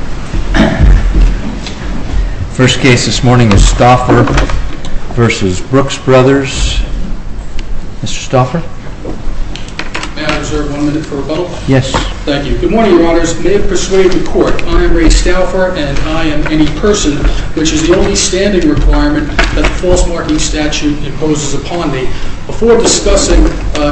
May I reserve one minute for rebuttal? Yes. Thank you. Good morning, Your Honors. I am Ray Stauffer and I am any person which is the only standing requirement that the False Marking Statute imposes upon me. Before discussing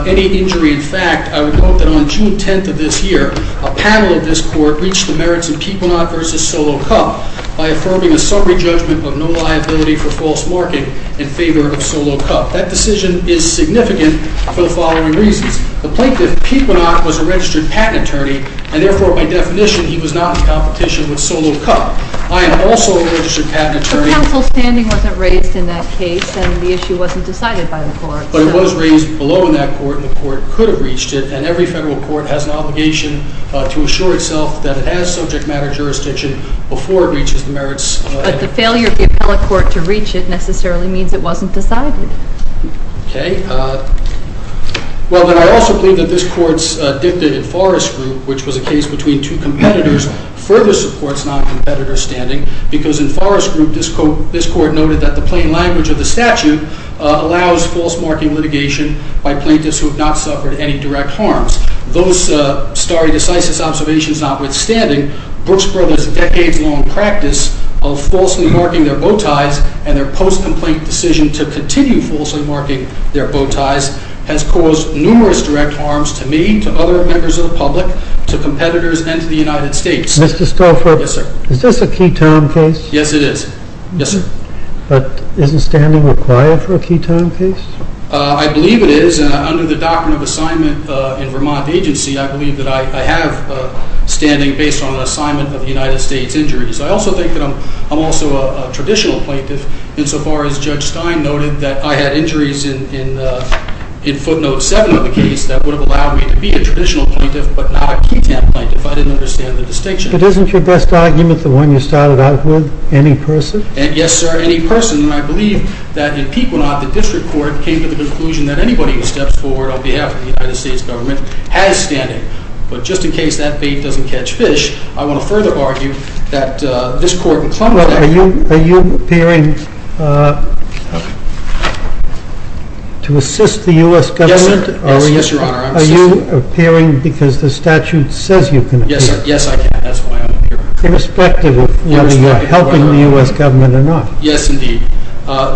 any injury in fact, I would note that on June 10th of this year, a panel of this Court reached the merits of Pequenot v. Solo Cup by affirming a summary judgment of no liability for false marking in favor of Solo Cup. That decision is significant for the following reasons. The plaintiff, Pequenot, was a registered patent attorney and therefore, by definition, he was not in competition with Solo Cup. I am also a registered patent attorney. So counsel's standing wasn't raised in that case and the issue wasn't decided by the court. But it was raised below in that court and the court could have reached it and every federal court has an obligation to assure itself that it has subject matter jurisdiction before it reaches the merits. But the failure of the appellate court to reach it necessarily means it wasn't decided. Well, I also believe that this Court's dicta in Forrest Group, which was a case between two competitors, further supports non-competitor standing because in Forrest Group, this Court noted that the plain language of the statute allows false marking litigation by plaintiffs who have not suffered any direct harms. Those stare decisis observations notwithstanding, Brooks Brothers' decades-long practice of falsely marking their bow ties and their post-complaint decision to continue falsely marking their bow ties has caused numerous direct harms to me, to other members of the public, to competitors, and to the United States. Mr. Stauffer? Yes, sir. Is this a key time case? Yes, it is. Yes, sir. But isn't standing required for a key time case? I believe it is. Under the doctrine of assignment in Vermont agency, I believe that I have standing based on an assignment of the United States injuries. I also think that I'm also a traditional plaintiff insofar as Judge Stein noted that I had injuries in footnote 7 of the case that would have allowed me to be a traditional plaintiff but not a key time plaintiff. I didn't understand the distinction. But isn't your best argument the one you started out with, any person? Yes, sir, any person. And I believe that in Pequenaut, the district court came to the conclusion that anybody who steps forward on behalf of the United States government has standing. But just in case that bait doesn't catch fish, I want to further argue that this court can claim that. Are you appearing to assist the U.S. government? Yes, sir. Yes, your honor. Are you appearing because the statute says you can appear? Yes, sir. Yes, I can. That's why I'm up here. Irrespective of whether you're helping the U.S. government or not. Yes, indeed.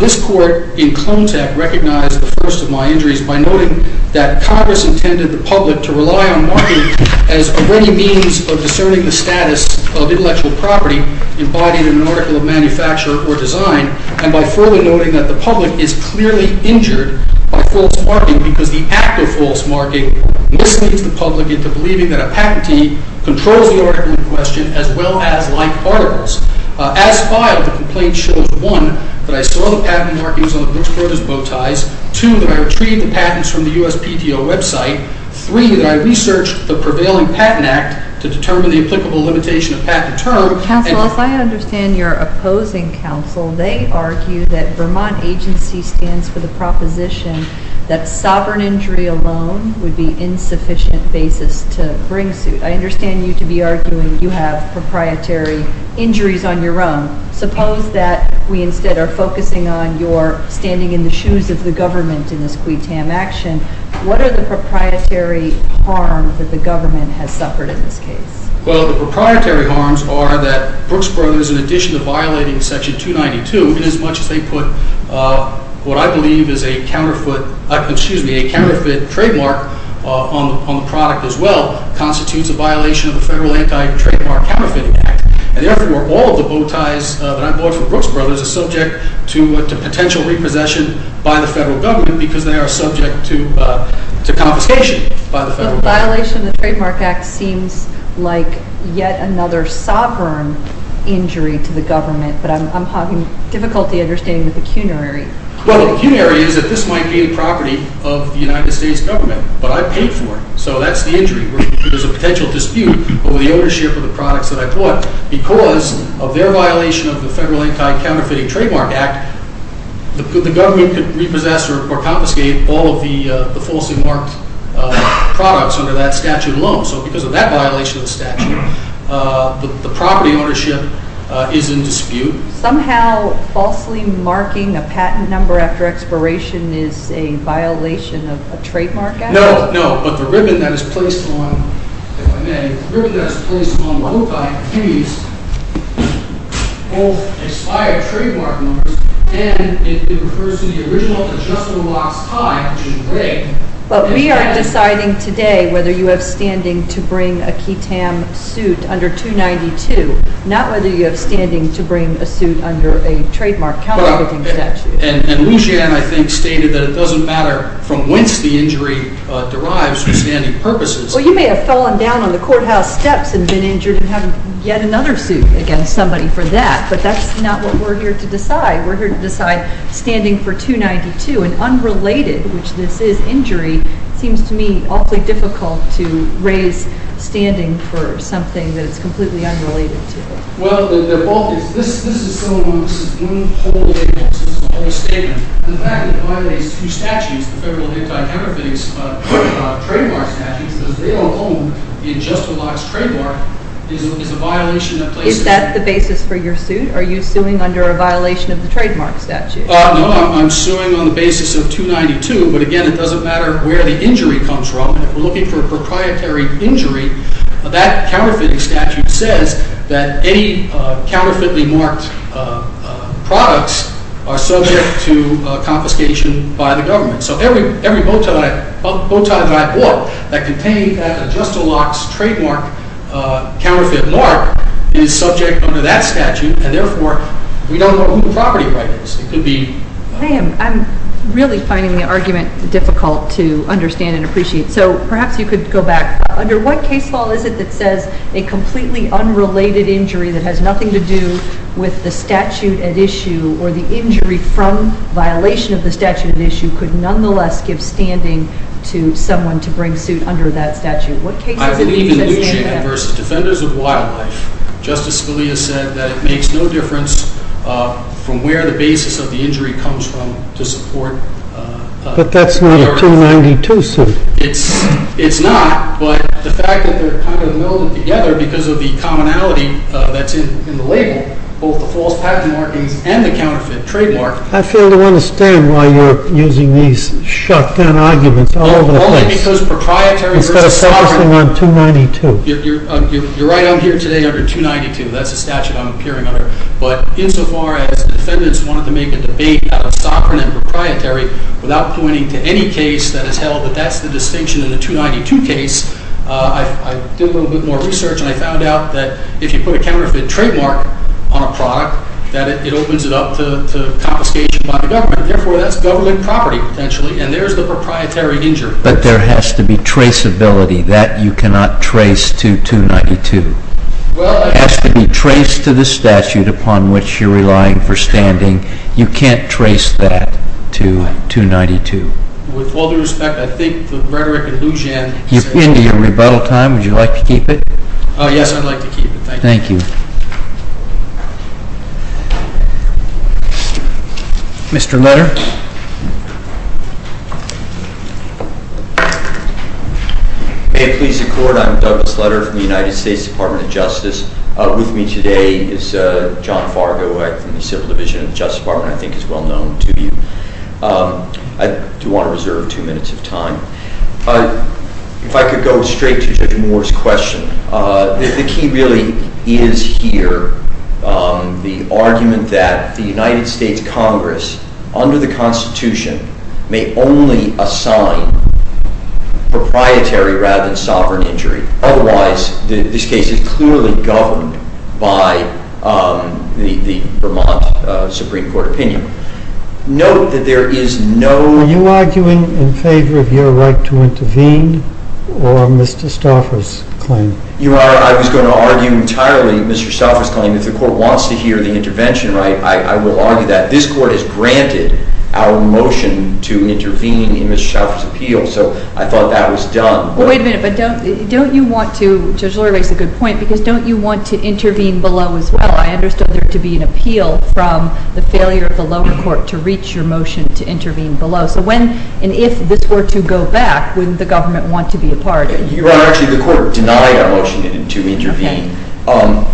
This court in clone tech recognized the first of my injuries by noting that Congress intended the public to rely on marking as a ready means of discerning the status of intellectual property embodied in an article of manufacture or design. And by further noting that the public is clearly injured by false marking because the act of false marking misleads the public into believing that a patentee controls the article in question as well as like articles. As filed, the complaint shows, one, that I saw the patent markings on the Brooks Brothers bow ties. Two, that I retrieved the patents from the USPTO website. Three, that I researched the prevailing patent act to determine the applicable limitation of patent term. Counsel, if I understand your opposing counsel, they argue that Vermont agency stands for the proposition that sovereign injury alone would be insufficient basis to bring suit. I understand you to be arguing you have proprietary injuries on your own. Suppose that we instead are focusing on your standing in the shoes of the government in this quitam action. What are the proprietary harms that the government has suffered in this case? Well, the proprietary harms are that Brooks Brothers, in addition to violating section 292, inasmuch as they put what I believe is a counterfeit trademark on the product as well, constitutes a violation of the federal anti-trademark counterfeiting act. And therefore, all of the bow ties that I bought from Brooks Brothers are subject to potential repossession by the federal government because they are subject to confiscation by the federal government. So the violation of the trademark act seems like yet another sovereign injury to the government, but I'm having difficulty understanding the pecuniary. Well, the pecuniary is that this might be the property of the United States government, but I paid for it. So that's the injury. There's a potential dispute over the ownership of the products that I bought. But because of their violation of the federal anti-counterfeiting trademark act, the government could repossess or confiscate all of the falsely marked products under that statute alone. So because of that violation of the statute, the property ownership is in dispute. Somehow, falsely marking a patent number after expiration is a violation of a trademark act? No, no. But the ribbon that is placed on the bow tie is both expired trademark numbers, and it refers to the original adjustable box tie, which is rigged. But we are deciding today whether you have standing to bring a QTAM suit under 292, not whether you have standing to bring a suit under a trademark counterfeiting statute. And Lujan, I think, stated that it doesn't matter from whence the injury derives for standing purposes. Well, you may have fallen down on the courthouse steps and been injured and have yet another suit against somebody for that. But that's not what we're here to decide. We're here to decide standing for 292. And unrelated, which this is injury, seems to me awfully difficult to raise standing for something that is completely unrelated to it. Well, they're both. This is one whole statement. And the fact that it violates two statutes, the federal anti-counterfeiting trademark statutes, because they alone, the adjustable box trademark, is a violation that places… Is that the basis for your suit? Are you suing under a violation of the trademark statute? No, I'm suing on the basis of 292. But again, it doesn't matter where the injury comes from. If we're looking for a proprietary injury, that counterfeiting statute says that any counterfeitly marked products are subject to confiscation by the government. So every bowtie that I bought that contained that adjustable box trademark counterfeit mark is subject under that statute. And therefore, we don't know who the property right is. It could be… I'm really finding the argument difficult to understand and appreciate. So perhaps you could go back. Under what case law is it that says a completely unrelated injury that has nothing to do with the statute at issue, or the injury from violation of the statute at issue, could nonetheless give standing to someone to bring suit under that statute? I believe in Leach v. Defenders of Wildlife. Justice Scalia said that it makes no difference from where the basis of the injury comes from to support… But that's not a 292 suit. It's not, but the fact that they're kind of melded together because of the commonality that's in the label, both the false patent markings and the counterfeit trademark… I fail to understand why you're using these shotgun arguments all over the place. Instead of focusing on 292. You're right. I'm here today under 292. That's the statute I'm appearing under. But insofar as the defendants wanted to make a debate out of sovereign and proprietary, without pointing to any case that has held that that's the distinction in the 292 case, I did a little bit more research and I found out that if you put a counterfeit trademark on a product, that it opens it up to confiscation by the government. Therefore, that's government property, potentially, and there's the proprietary injury. But there has to be traceability. That you cannot trace to 292. It has to be traced to the statute upon which you're relying for standing. You can't trace that to 292. With all due respect, I think the rhetoric in Lujan… You're into your rebuttal time. Would you like to keep it? Yes, I'd like to keep it. Thank you. Thank you. Mr. Letter? May it please the court, I'm Douglas Letter from the United States Department of Justice. With me today is John Fargo from the Civil Division of the Justice Department. I think he's well known to you. I do want to reserve two minutes of time. If I could go straight to Judge Moore's question. The key really is here the argument that the United States Congress, under the Constitution, may only assign proprietary rather than sovereign injury. Otherwise, this case is clearly governed by the Vermont Supreme Court opinion. Note that there is no… Are you arguing in favor of your right to intervene or Mr. Stauffer's claim? I was going to argue entirely Mr. Stauffer's claim. If the court wants to hear the intervention right, I will argue that. This court has granted our motion to intervene in Mr. Stauffer's appeal, so I thought that was done. Wait a minute, but don't you want to… Judge Lurie makes a good point, because don't you want to intervene below as well? I understood there to be an appeal from the failure of the lower court to reach your motion to intervene below. So when and if this were to go back, wouldn't the government want to be a part of it? Your Honor, actually the court denied our motion to intervene.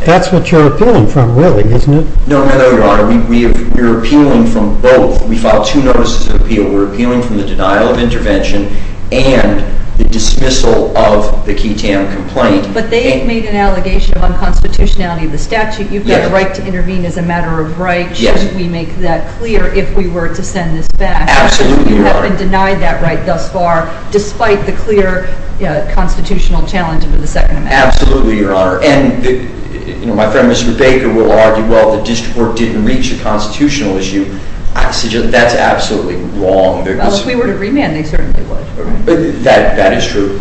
That's what you're appealing from really, isn't it? No, Your Honor. We're appealing from both. We filed two notices of appeal. We're appealing from the denial of intervention and the dismissal of the Key Tam complaint. But they made an allegation of unconstitutionality of the statute. You've got a right to intervene as a matter of right. Shouldn't we make that clear if we were to send this back? Absolutely, Your Honor. You have been denied that right thus far, despite the clear constitutional challenge of the Second Amendment. Absolutely, Your Honor. And my friend, Mr. Baker, will argue, well, the district court didn't reach a constitutional issue. That's absolutely wrong. Well, if we were to remand, they certainly would. That is true.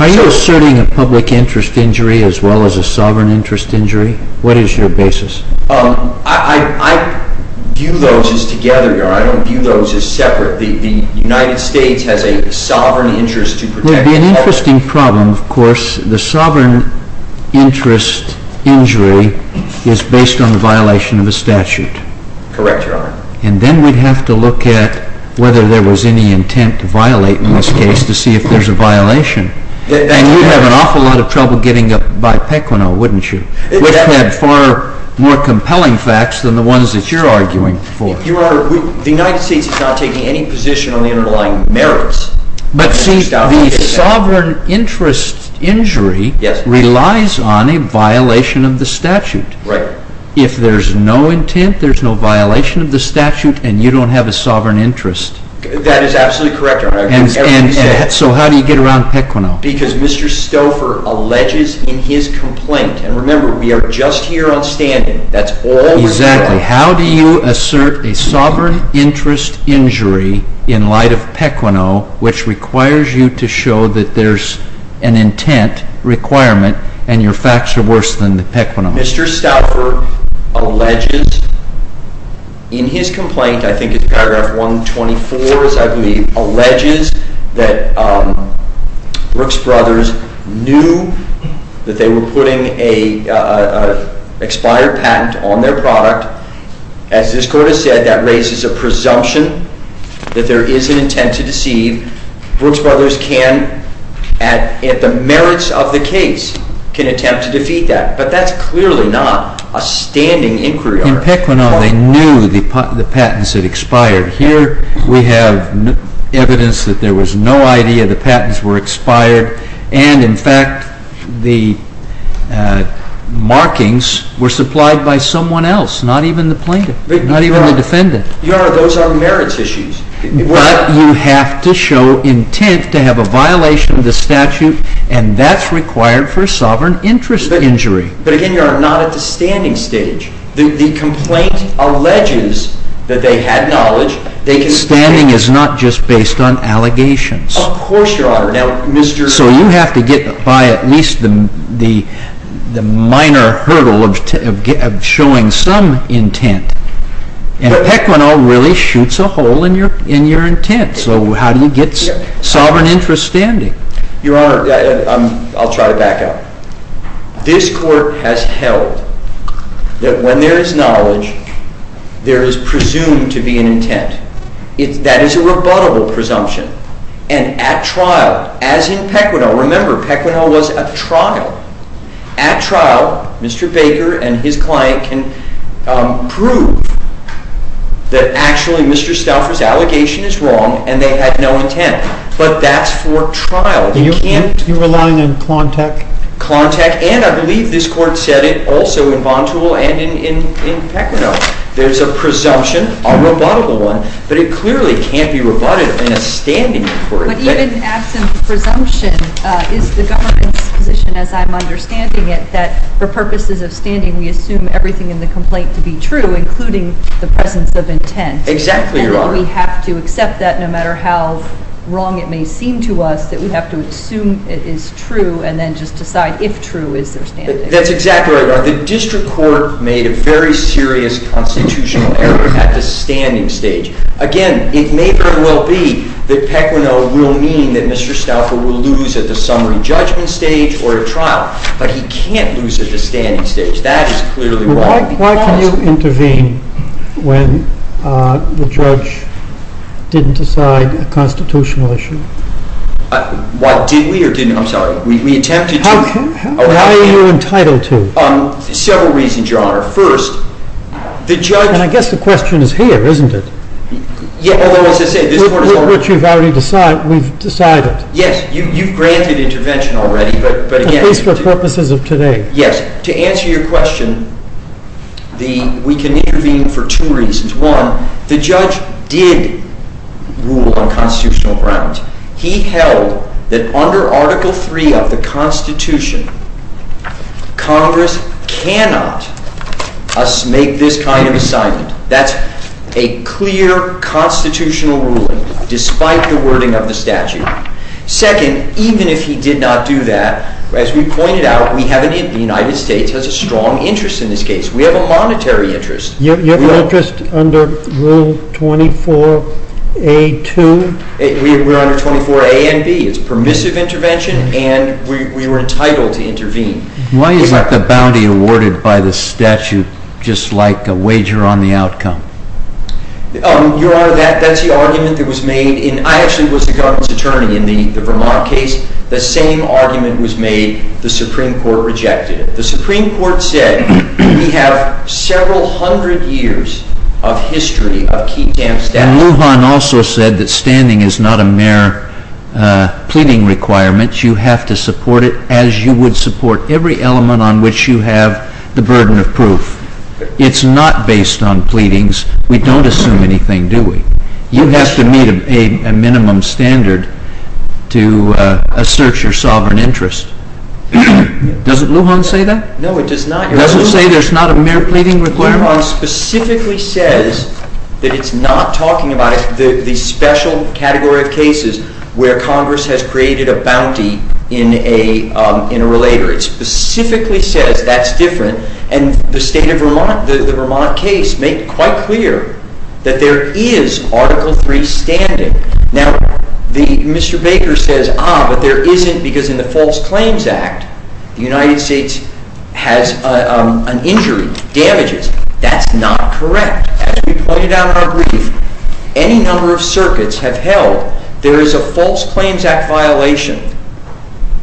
Are you asserting a public interest injury as well as a sovereign interest injury? What is your basis? I view those as together, Your Honor. I don't view those as separate. The United States has a sovereign interest to protect the public. There would be an interesting problem, of course. The sovereign interest injury is based on the violation of the statute. Correct, Your Honor. And then we'd have to look at whether there was any intent to violate in this case to see if there's a violation. And you'd have an awful lot of trouble getting up by Pequeno, wouldn't you? Which had far more compelling facts than the ones that you're arguing for. Your Honor, the United States is not taking any position on the underlying merits. But, see, the sovereign interest injury relies on a violation of the statute. Right. If there's no intent, there's no violation of the statute, and you don't have a sovereign interest. That is absolutely correct, Your Honor. So how do you get around Pequeno? Because Mr. Stouffer alleges in his complaint, and remember, we are just here on standing. Exactly. How do you assert a sovereign interest injury in light of Pequeno, which requires you to show that there's an intent requirement and your facts are worse than Pequeno? Mr. Stouffer alleges in his complaint, I think it's paragraph 124, I believe, alleges that Brooks Brothers knew that they were putting an expired patent on their product. As this Court has said, that raises a presumption that there is an intent to deceive. Brooks Brothers can, at the merits of the case, can attempt to defeat that. But that's clearly not a standing inquiry, Your Honor. In Pequeno, they knew the patents had expired. Here, we have evidence that there was no idea the patents were expired, and in fact, the markings were supplied by someone else, not even the plaintiff, not even the defendant. Your Honor, those are merits issues. But you have to show intent to have a violation of the statute, and that's required for a sovereign interest injury. But again, Your Honor, not at the standing stage. The complaint alleges that they had knowledge. Standing is not just based on allegations. Of course, Your Honor. So you have to get by at least the minor hurdle of showing some intent. And Pequeno really shoots a hole in your intent. So how do you get sovereign interest standing? Your Honor, I'll try to back up. This Court has held that when there is knowledge, there is presumed to be an intent. That is a rebuttable presumption. And at trial, as in Pequeno, remember, Pequeno was at trial. At trial, Mr. Baker and his client can prove that actually Mr. Stauffer's allegation is wrong and they had no intent. But that's for trial. You're relying on Klontek? Klontek, and I believe this Court said it also in Bontuol and in Pequeno. There's a presumption, a rebuttable one, but it clearly can't be rebutted in a standing court. But even absent the presumption, is the government's position, as I'm understanding it, that for purposes of standing, we assume everything in the complaint to be true, including the presence of intent? Exactly, Your Honor. So we have to accept that no matter how wrong it may seem to us, that we have to assume it is true and then just decide if true is their standing? That's exactly right, Your Honor. The district court made a very serious constitutional error at the standing stage. Again, it may very well be that Pequeno will mean that Mr. Stauffer will lose at the summary judgment stage or at trial. But he can't lose at the standing stage. That is clearly why. Why can you intervene when the judge didn't decide a constitutional issue? What, did we or didn't we? I'm sorry. We attempted to. Why are you entitled to? Several reasons, Your Honor. First, the judge… And I guess the question is here, isn't it? Although, as I say, this Court has already… Which we've already decided. Yes, you've granted intervention already, but again… At least for purposes of today. Yes, to answer your question, we can intervene for two reasons. One, the judge did rule on constitutional grounds. He held that under Article III of the Constitution, Congress cannot make this kind of assignment. That's a clear constitutional ruling, despite the wording of the statute. Second, even if he did not do that, as we pointed out, the United States has a strong interest in this case. We have a monetary interest. You have an interest under Rule 24A-2? We're under 24A and B. It's permissive intervention, and we were entitled to intervene. Why is the bounty awarded by the statute just like a wager on the outcome? Your Honor, that's the argument that was made in… I actually was the government's attorney in the Vermont case. The same argument was made. The Supreme Court rejected it. The Supreme Court said we have several hundred years of history of key stamp status. And Lujan also said that standing is not a mere pleading requirement. You have to support it as you would support every element on which you have the burden of proof. It's not based on pleadings. We don't assume anything, do we? You have to meet a minimum standard to assert your sovereign interest. Doesn't Lujan say that? No, it does not. It doesn't say there's not a mere pleading requirement? Lujan specifically says that it's not talking about the special category of cases where Congress has created a bounty in a relator. It specifically says that's different. And the Vermont case made quite clear that there is Article III standing. Now, Mr. Baker says, ah, but there isn't because in the False Claims Act, the United States has an injury, damages. That's not correct. As we pointed out in our brief, any number of circuits have held there is a False Claims Act violation.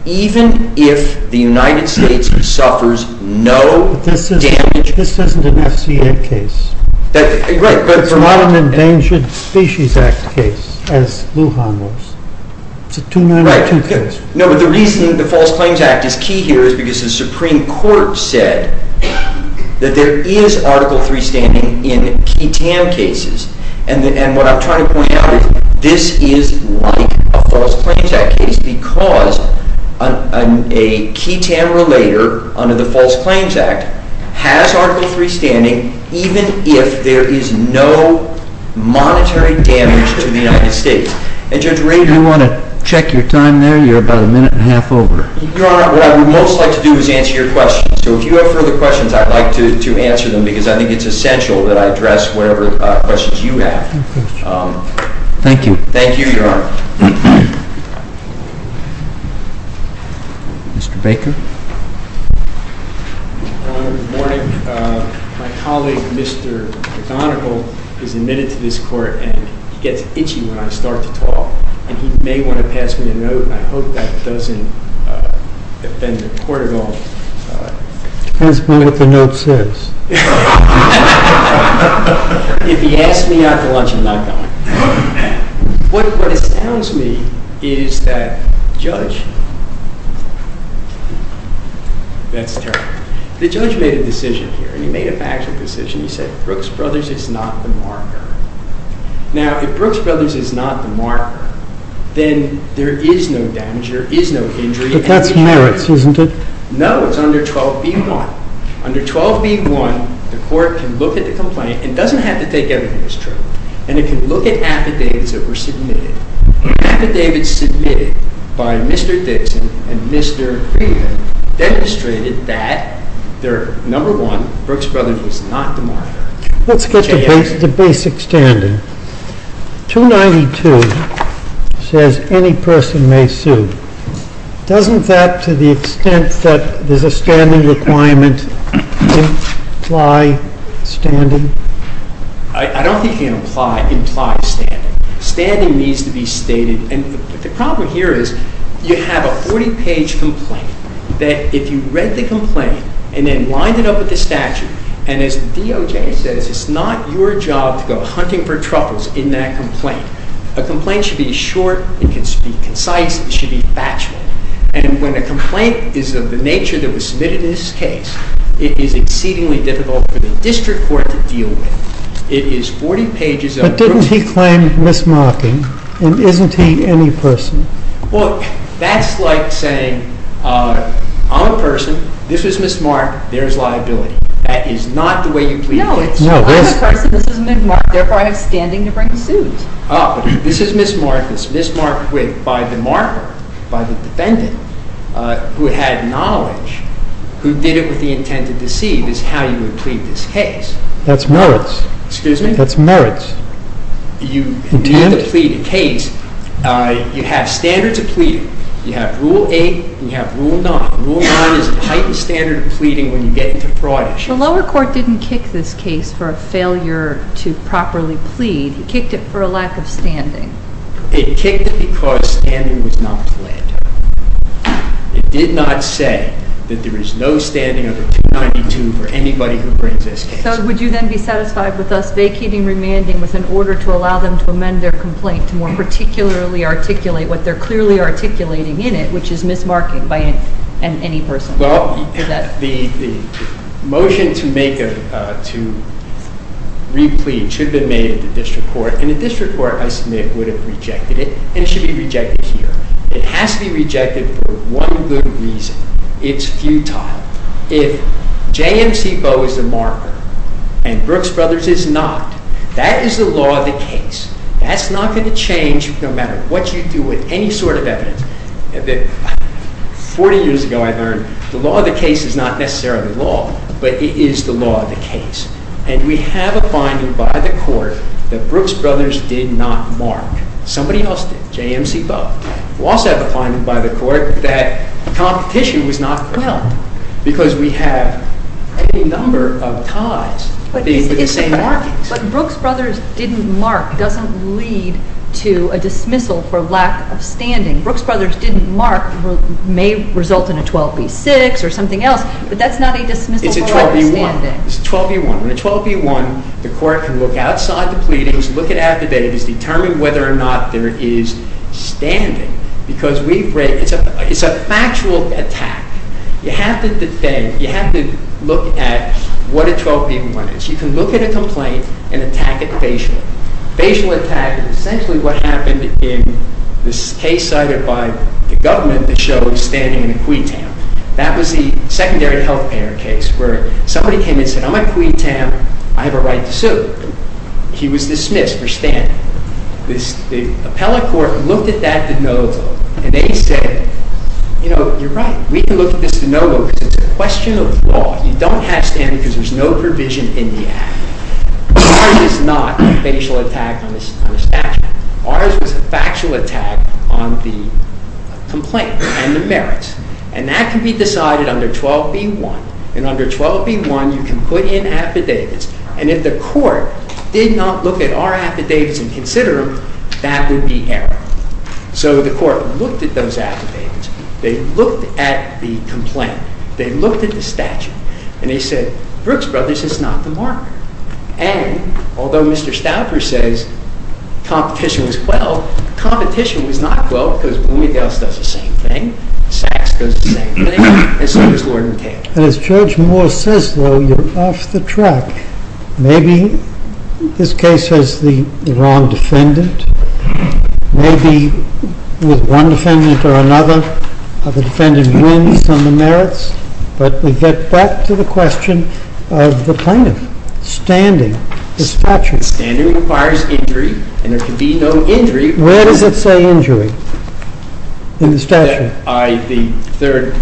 Even if the United States suffers no damage. But this isn't an FCA case. It's not an Endangered Species Act case, as Lujan was. It's a 292 case. No, but the reason the False Claims Act is key here is because the Supreme Court said that there is Article III standing in key TAM cases. And what I'm trying to point out is this is like a False Claims Act case because a key TAM relator under the False Claims Act has Article III standing, even if there is no monetary damage to the United States. And Judge Rayburn You want to check your time there? You're about a minute and a half over. Your Honor, what I would most like to do is answer your questions. So if you have further questions, I'd like to answer them because I think it's essential that I address whatever questions you have. Thank you. Thank you, Your Honor. Mr. Baker? Good morning. My colleague, Mr. McGonigal, is admitted to this court and he gets itchy when I start to talk. And he may want to pass me a note, and I hope that doesn't offend the court at all. Pass me what the note says. If he asks me out to lunch, I'm not going. What astounds me is that Judge That's terrible. The judge made a decision here, and he made a factual decision. He said Brooks Brothers is not the marker. Now, if Brooks Brothers is not the marker, then there is no damage. There is no injury. But that's merits, isn't it? No, it's under 12b-1. Under 12b-1, the court can look at the complaint. It doesn't have to take evidence to prove it. And it can look at affidavits that were submitted. Affidavits submitted by Mr. Dixon and Mr. Craven demonstrated that, number one, Brooks Brothers is not the marker. Let's get to the basic standing. 292 says any person may sue. Doesn't that, to the extent that there's a standing requirement, imply standing? I don't think it implies standing. Standing needs to be stated. And the problem here is you have a 40-page complaint. That if you read the complaint and then lined it up with the statute, and as the DOJ says, it's not your job to go hunting for troubles in that complaint. A complaint should be short. It should be concise. It should be factual. And when a complaint is of the nature that was submitted in this case, it is exceedingly difficult for the district court to deal with. It is 40 pages over. But didn't he claim mismarking? And isn't he any person? Well, that's like saying I'm a person. This was mismarked. There's liability. That is not the way you plead a case. No. I'm a person. This was mismarked. Therefore, I have standing to bring the suit. This is mismarked. It's mismarked by the marker, by the defendant, who had knowledge, who did it with the intent to deceive, is how you would plead this case. That's merits. Excuse me? That's merits. You have standards of pleading. You have Rule 8 and you have Rule 9. Rule 9 is a heightened standard of pleading when you get into fraud issues. The lower court didn't kick this case for a failure to properly plead. It kicked it for a lack of standing. It kicked it because standing was not pled. It did not say that there is no standing under 292 for anybody who brings this case. So would you then be satisfied with us vacating remanding with an order to allow them to amend their complaint to more particularly articulate what they're clearly articulating in it, which is mismarking by any person? Well, the motion to make a, to re-plead should have been made at the district court. And the district court, I submit, would have rejected it. And it should be rejected here. It has to be rejected for one good reason. It's futile. If JMC Boe is the marker and Brooks Brothers is not, that is the law of the case. That's not going to change no matter what you do with any sort of evidence. Forty years ago I learned the law of the case is not necessarily the law, but it is the law of the case. And we have a finding by the court that Brooks Brothers did not mark. Somebody else did. JMC Boe. We also have a finding by the court that competition was not good. Well. Because we have a number of ties being to the same markings. But Brooks Brothers didn't mark doesn't lead to a dismissal for lack of standing. Brooks Brothers didn't mark may result in a 12B6 or something else, but that's not a dismissal for lack of standing. It's a 12B1. It's a 12B1. In a 12B1, the court can look outside the pleadings, look at affidavits, determine whether or not there is standing. Because it's a factual attack. You have to defend. You have to look at what a 12B1 is. You can look at a complaint and attack it facially. Facial attack is essentially what happened in this case cited by the government that shows standing in a queen town. That was the secondary health care case where somebody came and said, I'm a queen town. I have a right to sue. He was dismissed for standing. The appellate court looked at that de novo and they said, you know, you're right. We can look at this de novo because it's a question of law. You don't have standing because there's no provision in the act. Ours is not a facial attack on a statute. Ours was a factual attack on the complaint and the merits. And that can be decided under 12B1. And under 12B1, you can put in affidavits. And if the court did not look at our affidavits and consider them, that would be error. So the court looked at those affidavits. They looked at the complaint. They looked at the statute. And they said, Brooks Brothers is not the market. And although Mr. Stauffer says competition was quelled, competition was not quelled because Boone and Gales does the same thing. Sachs does the same thing. And so does Lord and Cale. And as Judge Moore says, though, you're off the track. Maybe this case has the wrong defendant. Maybe with one defendant or another, the defendant wins on the merits. But we get back to the question of the plaintiff, standing, the statute. Standing requires injury. And there can be no injury. Where does it say injury in the statute? The third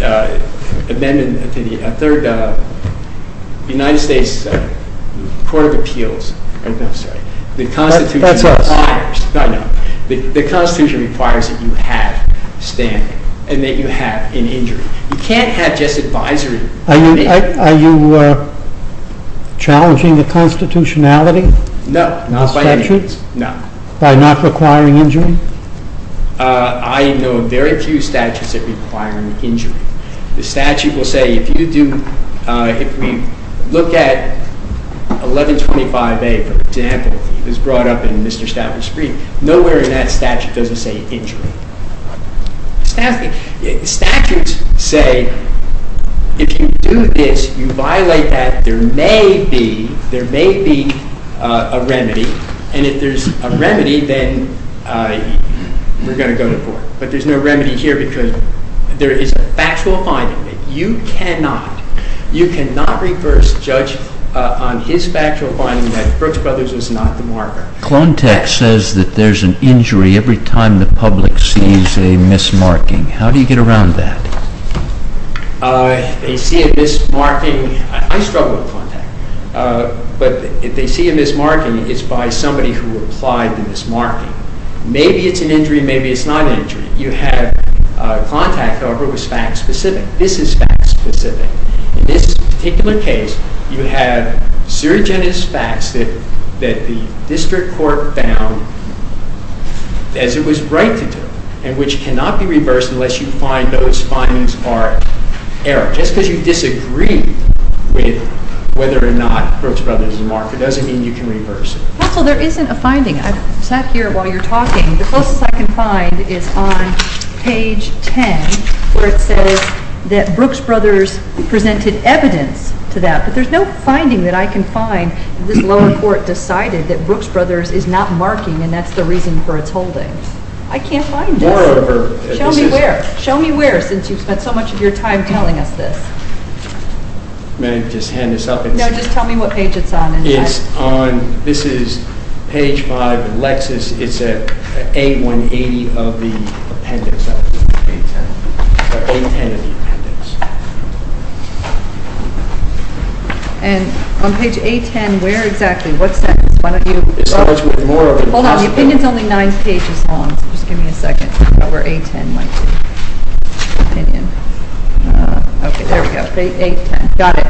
amendment, the third United States Court of Appeals, I'm sorry, the Constitution requires that you have standing and that you have an injury. You can't have just advisory. Are you challenging the constitutionality? No, not by any means. By not requiring injury? I know very few statutes that require an injury. The statute will say if you do, if we look at 1125A, for example, it was brought up in Mr. Stauffer's brief. Nowhere in that statute does it say injury. Statutes say if you do this, you violate that, there may be a remedy. And if there's a remedy, then we're going to go to court. But there's no remedy here because there is a factual finding. You cannot, you cannot reverse judge on his factual finding that Brooks Brothers was not the martyr. Clontex says that there's an injury every time the public sees a mismarking. How do you get around that? They see a mismarking. I struggle with Clontex. But if they see a mismarking, it's by somebody who applied the mismarking. Maybe it's an injury, maybe it's not an injury. You have Clontex, however, was fact specific. This is fact specific. In this particular case, you have serious facts that the district court found as it was right to do, and which cannot be reversed unless you find those findings are error. Just because you disagree with whether or not Brooks Brothers is a martyr doesn't mean you can reverse it. Counsel, there isn't a finding. I've sat here while you're talking. The closest I can find is on page 10 where it says that Brooks Brothers presented evidence to that. But there's no finding that I can find. This lower court decided that Brooks Brothers is not marking, and that's the reason for its holding. I can't find it. Show me where. Show me where since you've spent so much of your time telling us this. May I just hand this up? No, just tell me what page it's on. This is page 5 in Lexis. It's at A180 of the appendix, not page 10. Sorry, A10 of the appendix. And on page A10, where exactly? What sentence? Why don't you- It starts with more of the- Hold on. The opinion's only nine pages long, so just give me a second to figure out where A10 might be. Opinion. Okay, there we go. A10. Got it.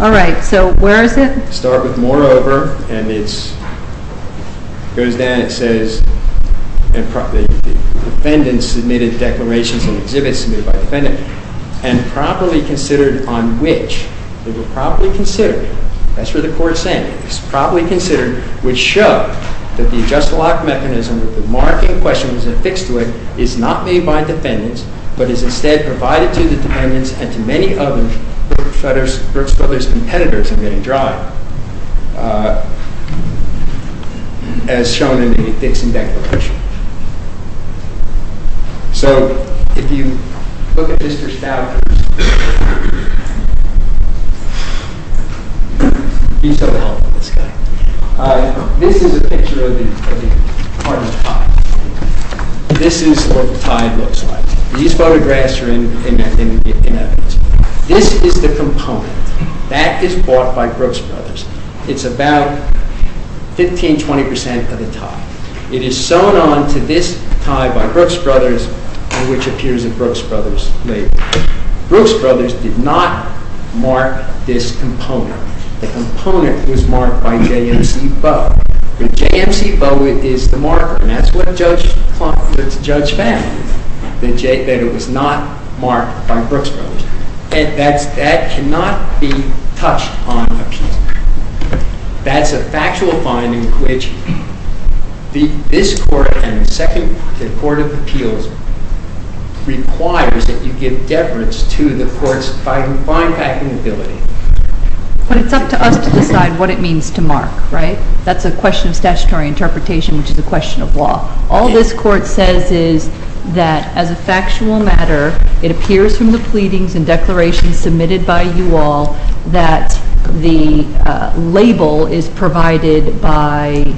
All right, so where is it? Start with more over, and it goes down. It says the defendant submitted declarations and exhibits submitted by the defendant, and properly considered on which they were properly considered. That's what the court's saying. It was properly considered, which showed that the adjusted lock mechanism, that the marking question was affixed to it, is not made by defendants, but is instead provided to the defendants and to many other Brooks Brothers competitors. I'm getting dry. As shown in the Dixon Declaration. So, if you look at Mr. Stoudter's- Please don't help this guy. This is a picture of the part of the pie. This is what the pie looks like. These photographs are in evidence. This is the component. That is bought by Brooks Brothers. It's about 15-20% of the pie. It is sewn on to this pie by Brooks Brothers, on which appears a Brooks Brothers label. Brooks Brothers did not mark this component. The component was marked by J.M.C. Bowe. J.M.C. Bowe is the marker. That's what Judge Fenn, that it was not marked by Brooks Brothers. That cannot be touched on. That's a factual finding, which this Court and the Second Court of Appeals requires that you give deference to the Court's fine-packing ability. But it's up to us to decide what it means to mark, right? That's a question of statutory interpretation, which is a question of law. All this Court says is that, as a factual matter, it appears from the pleadings and declarations submitted by you all that the label is provided by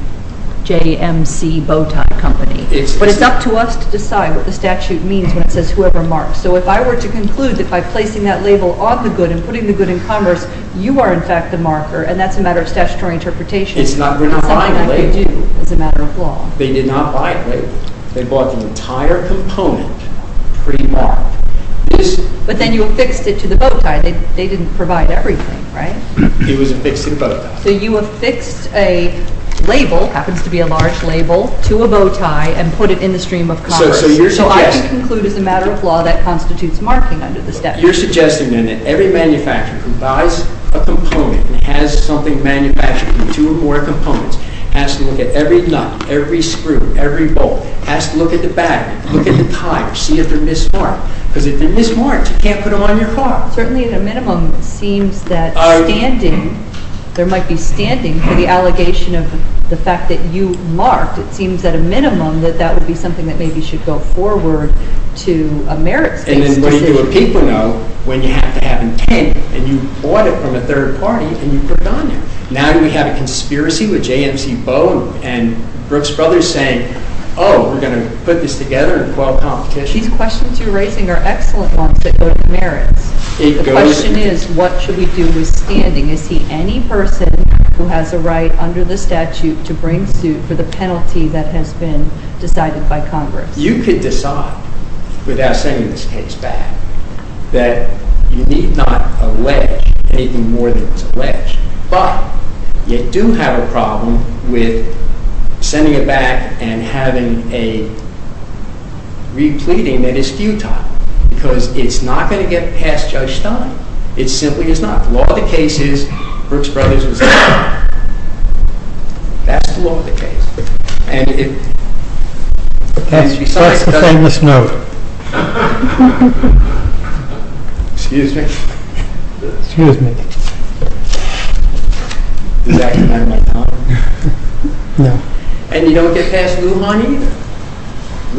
J.M.C. Bowtie Company. But it's up to us to decide what the statute means when it says whoever marks. So if I were to conclude that by placing that label on the good and putting the good in Congress, you are in fact the marker, and that's a matter of statutory interpretation, it's something I could do as a matter of law. They did not buy a label. They bought the entire component pre-marked. But then you affixed it to the bowtie. They didn't provide everything, right? It was affixed to the bowtie. So you affixed a label, happens to be a large label, to a bowtie and put it in the stream of Congress. So I can conclude as a matter of law that constitutes marking under the statute. You're suggesting then that every manufacturer who buys a component and has something manufactured in two or more components has to look at every nut, every screw, every bolt, has to look at the battery, look at the tire, see if they're mismarked. Because if they're mismarked, you can't put them on your car. Certainly at a minimum it seems that standing, there might be standing for the allegation of the fact that you marked, it seems at a minimum that that would be something that maybe should go forward to a merits-based decision. And then when you do a paper note, when you have to have intent, and you bought it from a third party and you put it on there. Now do we have a conspiracy with JMC Boe and Brooks Brothers saying, oh, we're going to put this together and quell competition? These questions you're raising are excellent ones that go to merits. The question is, what should we do with standing? Is he any person who has a right under the statute to bring suit for the penalty that has been decided by Congress? You could decide, without sending this case back, that you need not allege anything more than it was alleged. But you do have a problem with sending it back and having a re-pleading that is futile. Because it's not going to get past Judge Stein. It simply is not. The law of the case is Brooks Brothers was a liar. That's the law of the case. That's the famous note. Excuse me. Excuse me. Does that remind you of my time? No. And you don't get past Lujan either.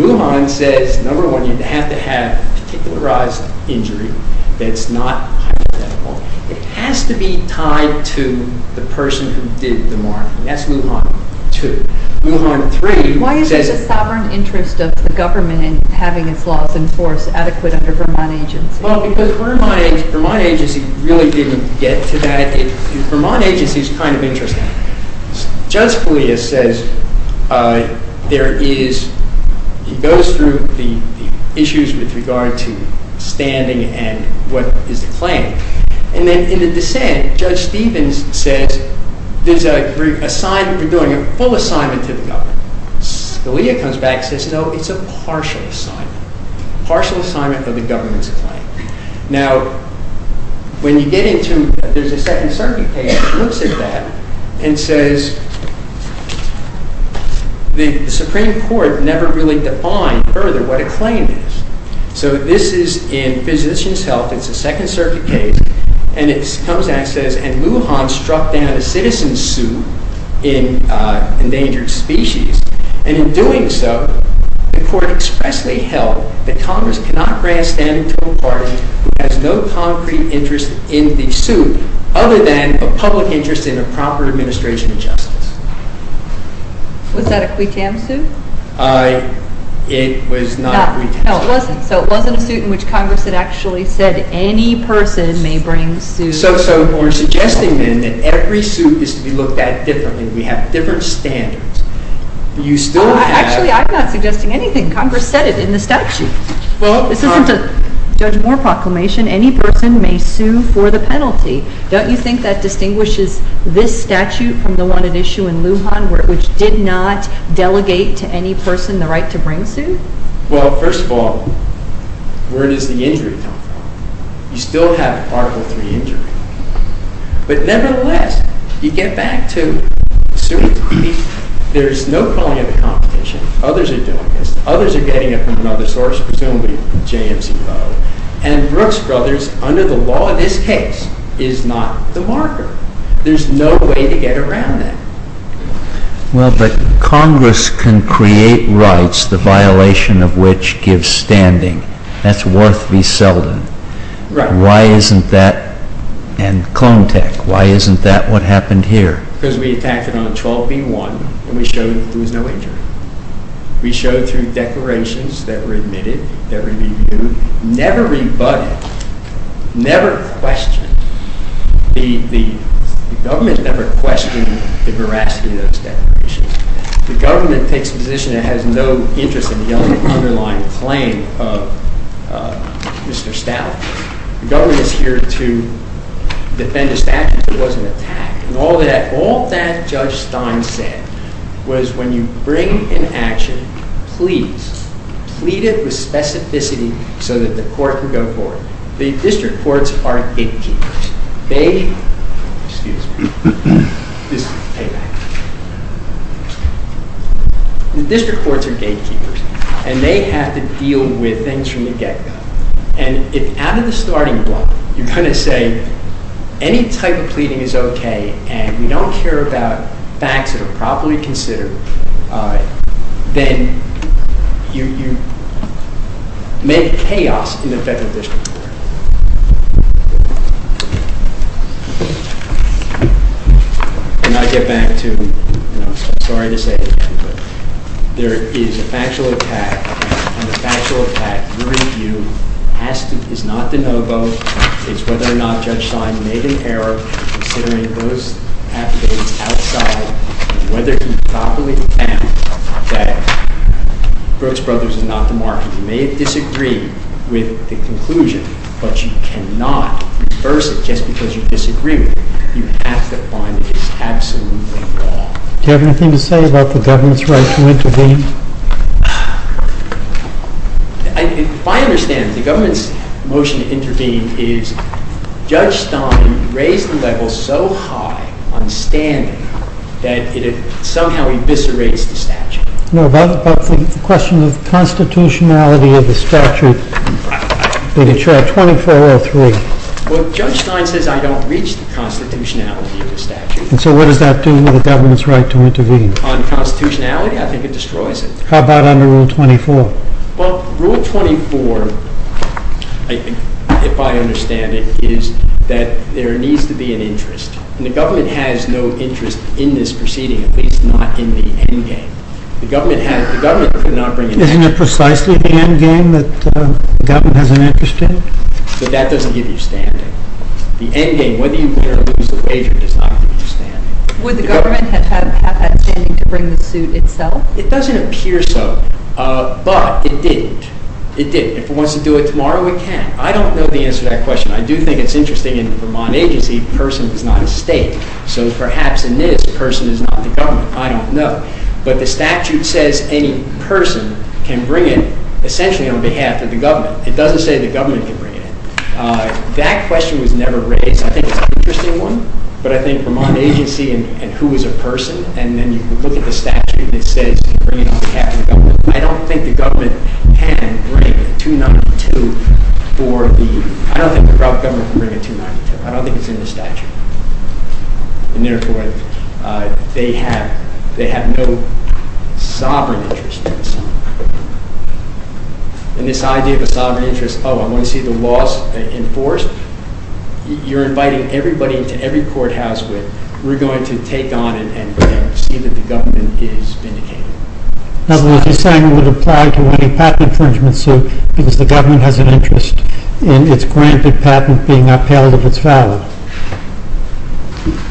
Lujan says, number one, you have to have particularized injury that's not hypothetical. It has to be tied to the person who did the marking. That's Lujan, two. Lujan, three, says Why is there a sovereign interest of the government in having its laws enforced adequate under Vermont agency? Well, because Vermont agency really didn't get to that. Vermont agency is kind of interesting. Judge Feliz says he goes through the issues with regard to standing and what is the claim. And then in the dissent, Judge Stevens says you're doing a full assignment to the government. Scalia comes back and says, no, it's a partial assignment. Partial assignment of the government's claim. Now, when you get into, there's a Second Circuit case that looks at that and says the Supreme Court never really defined further what a claim is. So this is in Physician's Health. It's a Second Circuit case. And it comes back and says, and Lujan struck down a citizen's suit in Endangered Species. And in doing so, the court expressly held that Congress cannot grant standing to a party who has no concrete interest in the suit other than a public interest in a proper administration of justice. Was that a quitam suit? It was not a quitam suit. No, it wasn't. So it wasn't a suit in which Congress had actually said any person may bring suit. So you're suggesting, then, that every suit is to be looked at differently. We have different standards. You still have- Actually, I'm not suggesting anything. Congress said it in the statute. This isn't a Judge Moore proclamation. Any person may sue for the penalty. Don't you think that distinguishes this statute from the one at issue in Lujan, which did not delegate to any person the right to bring suit? Well, first of all, where does the injury come from? You still have Article III injury. But nevertheless, you get back to the suit. There's no calling it a competition. Others are doing this. Others are getting it from another source, presumably JMC Boe. And Brooks Brothers, under the law of this case, is not the marker. There's no way to get around that. Well, but Congress can create rights the violation of which gives standing. That's worth beselling. Why isn't that- And Clone Tech. Why isn't that what happened here? Because we attacked it on 12B1, and we showed that there was no injury. We showed through declarations that were admitted, that were reviewed, never rebutted, never questioned. The government never questioned the veracity of those declarations. The government takes a position that has no interest in the underlying claim of Mr. Stout. The government is here to defend a statute that was an attack. And all that Judge Stein said was when you bring an action, please plead it with specificity so that the court can go forward. The district courts are gatekeepers. They- Excuse me. This is payback. The district courts are gatekeepers, and they have to deal with things from the get-go. And if out of the starting block you're going to say any type of pleading is okay and we don't care about facts that are properly considered, then you make chaos in the federal district court. And I get back to, and I'm sorry to say it again, but there is a factual attack, and the factual attack, your review has to- is not de novo. It's whether or not Judge Stein made an error considering those affidavits outside and whether he properly found that Brooks Brothers is not the market. You may disagree with the conclusion, but you cannot reverse it just because you disagree with it. You have to find it is absolutely wrong. Do you have anything to say about the government's right to intervene? If I understand it, the government's motion to intervene is Judge Stein raised the level so high on standing that it somehow eviscerates the statute. No, but the question of the constitutionality of the statute in the chart 2403. Well, Judge Stein says I don't reach the constitutionality of the statute. And so what does that do to the government's right to intervene? On constitutionality, I think it destroys it. How about under Rule 24? Well, Rule 24, if I understand it, is that there needs to be an interest. And the government has no interest in this proceeding, at least not in the endgame. The government could not bring an interest. Isn't it precisely the endgame that the government has an interest in? But that doesn't give you standing. The endgame, whether you win or lose the wager, does not give you standing. Would the government have that standing to bring the suit itself? It doesn't appear so. But it didn't. It didn't. If it wants to do it tomorrow, it can. I don't know the answer to that question. I do think it's interesting in the Vermont agency, a person is not a state. So perhaps in this, a person is not the government. I don't know. But the statute says any person can bring it essentially on behalf of the government. It doesn't say the government can bring it. That question was never raised. I think it's an interesting one. But I think Vermont agency and who is a person, and then you look at the statute and it says bring it on behalf of the government. I don't think the government can bring a 292 for the... I don't think the government can bring a 292. I don't think it's in the statute. And therefore, they have no sovereign interest. And this idea of a sovereign interest, oh, I want to see the laws enforced. You're inviting everybody into every courthouse with... We're going to take on and see that the government is vindicated. In other words, you're saying it would apply to any patent infringement suit because the government has an interest in its granted patent being upheld if it's valid.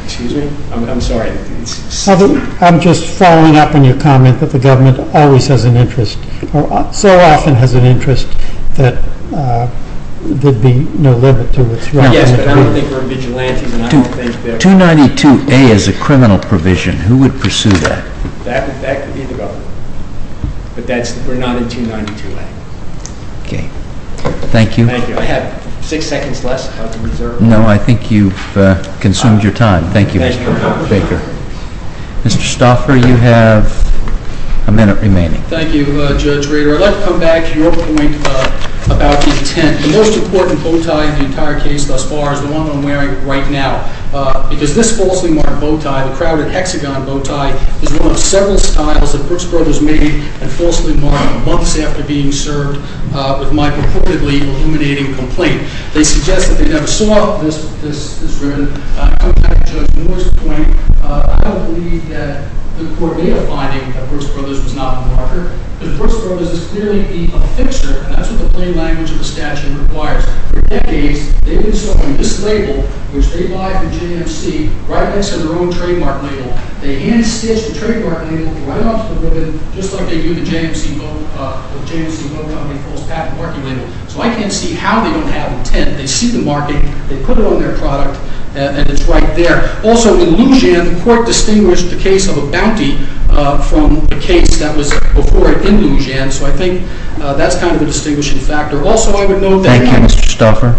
Excuse me. I'm just following up on your comment that the government always has an interest or so often has an interest that there'd be no limit to what's wrong. Yes, but I don't think we're vigilantes and I don't think that... 292A is a criminal provision. Who would pursue that? That would be the government. But we're not in 292A. Okay. Thank you. Thank you. I have six seconds less. No, I think you've consumed your time. Thank you, Mr. Baker. Mr. Stauffer, you have a minute remaining. Thank you, Judge Rader. I'd like to come back to your point about the intent. The most important bow tie in the entire case thus far is the one I'm wearing right now because this falsely marked bow tie, the crowded hexagon bow tie, is one of several styles that Brooks Brothers made and falsely marked months after being served with my purportedly illuminating complaint. They suggest that they never saw this is written. I'm not a judge. In which point, I don't believe that the court made a finding that Brooks Brothers was not a marker. Because Brooks Brothers is clearly a fixer, and that's what the plain language of the statute requires. For decades, they've been selling this label, which they buy from JMC, right next to their own trademark label. They hand-stitch the trademark label right off the ribbon, just like they do with JMC Boat Company false patent marking label. So I can't see how they don't have intent. They see the marking, they put it on their product, and it's right there. Also, in Lujan, the court distinguished the case of a bounty from a case that was before it in Lujan. So I think that's kind of a distinguishing factor. Also, I would note that... Thank you, Mr. Stauffer.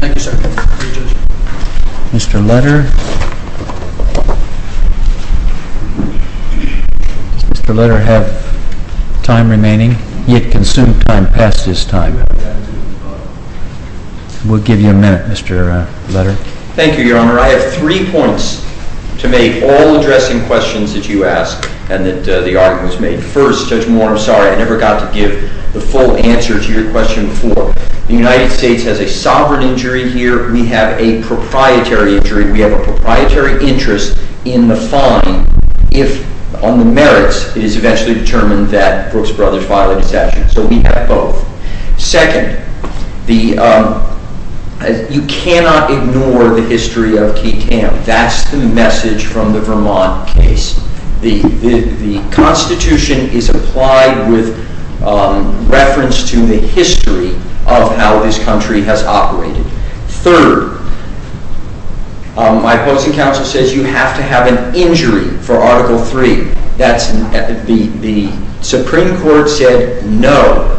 Thank you, sir. Mr. Letter. Does Mr. Letter have time remaining? He had consumed time past his time. We'll give you a minute, Mr. Letter. Thank you, Your Honor. I have three points to make, all addressing questions that you asked and that the argument was made. First, Judge Moore, I'm sorry, I never got to give the full answer to your question before. The United States has a sovereign injury here. We have a proprietary injury. We have a proprietary interest in the fine if, on the merits, it is eventually determined that Brooks Brothers filed a dissension. So we have both. Second, you cannot ignore the history of Key Cam. That's the message from the Vermont case. The Constitution is applied with reference to the history of how this country has operated. Third, my opposing counsel says you have to have an injury for Article III. The Supreme Court said no.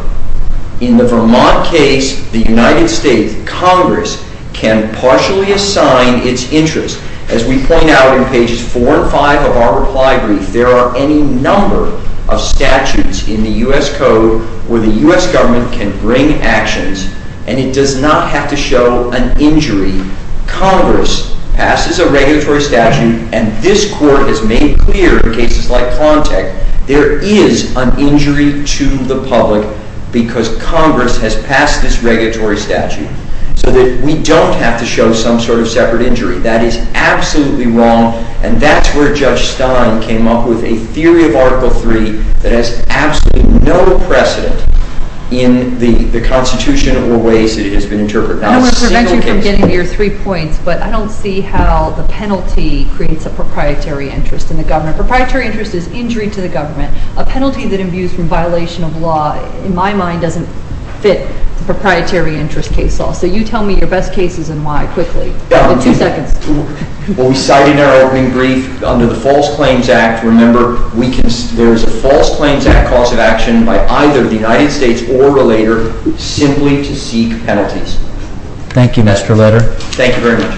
In the Vermont case, the United States Congress can partially assign its interest. As we point out in pages four and five of our reply brief, there are any number of statutes in the U.S. Code where the U.S. government can bring actions and it does not have to show an injury. Congress passes a regulatory statute and this Court has made clear in cases like Plantech, there is an injury to the public because Congress has passed this regulatory statute so that we don't have to show some sort of separate injury. That is absolutely wrong and that's where Judge Stein came up with a theory of Article III that has absolutely no precedent in the Constitution or ways that it has been interpreted. I don't want to prevent you from getting to your three points, but I don't see how the penalty creates a proprietary interest in the government. Proprietary interest is injury to the government. A penalty that imbues from violation of law in my mind doesn't fit the proprietary interest case law. So you tell me your best cases and why, quickly. In two seconds. Well, we cite in our opening brief under the False Claims Act, remember there is a False Claims Act cause of action by either the United States or a relator simply to seek penalties. Thank you, Mr. Leder. Thank you very much.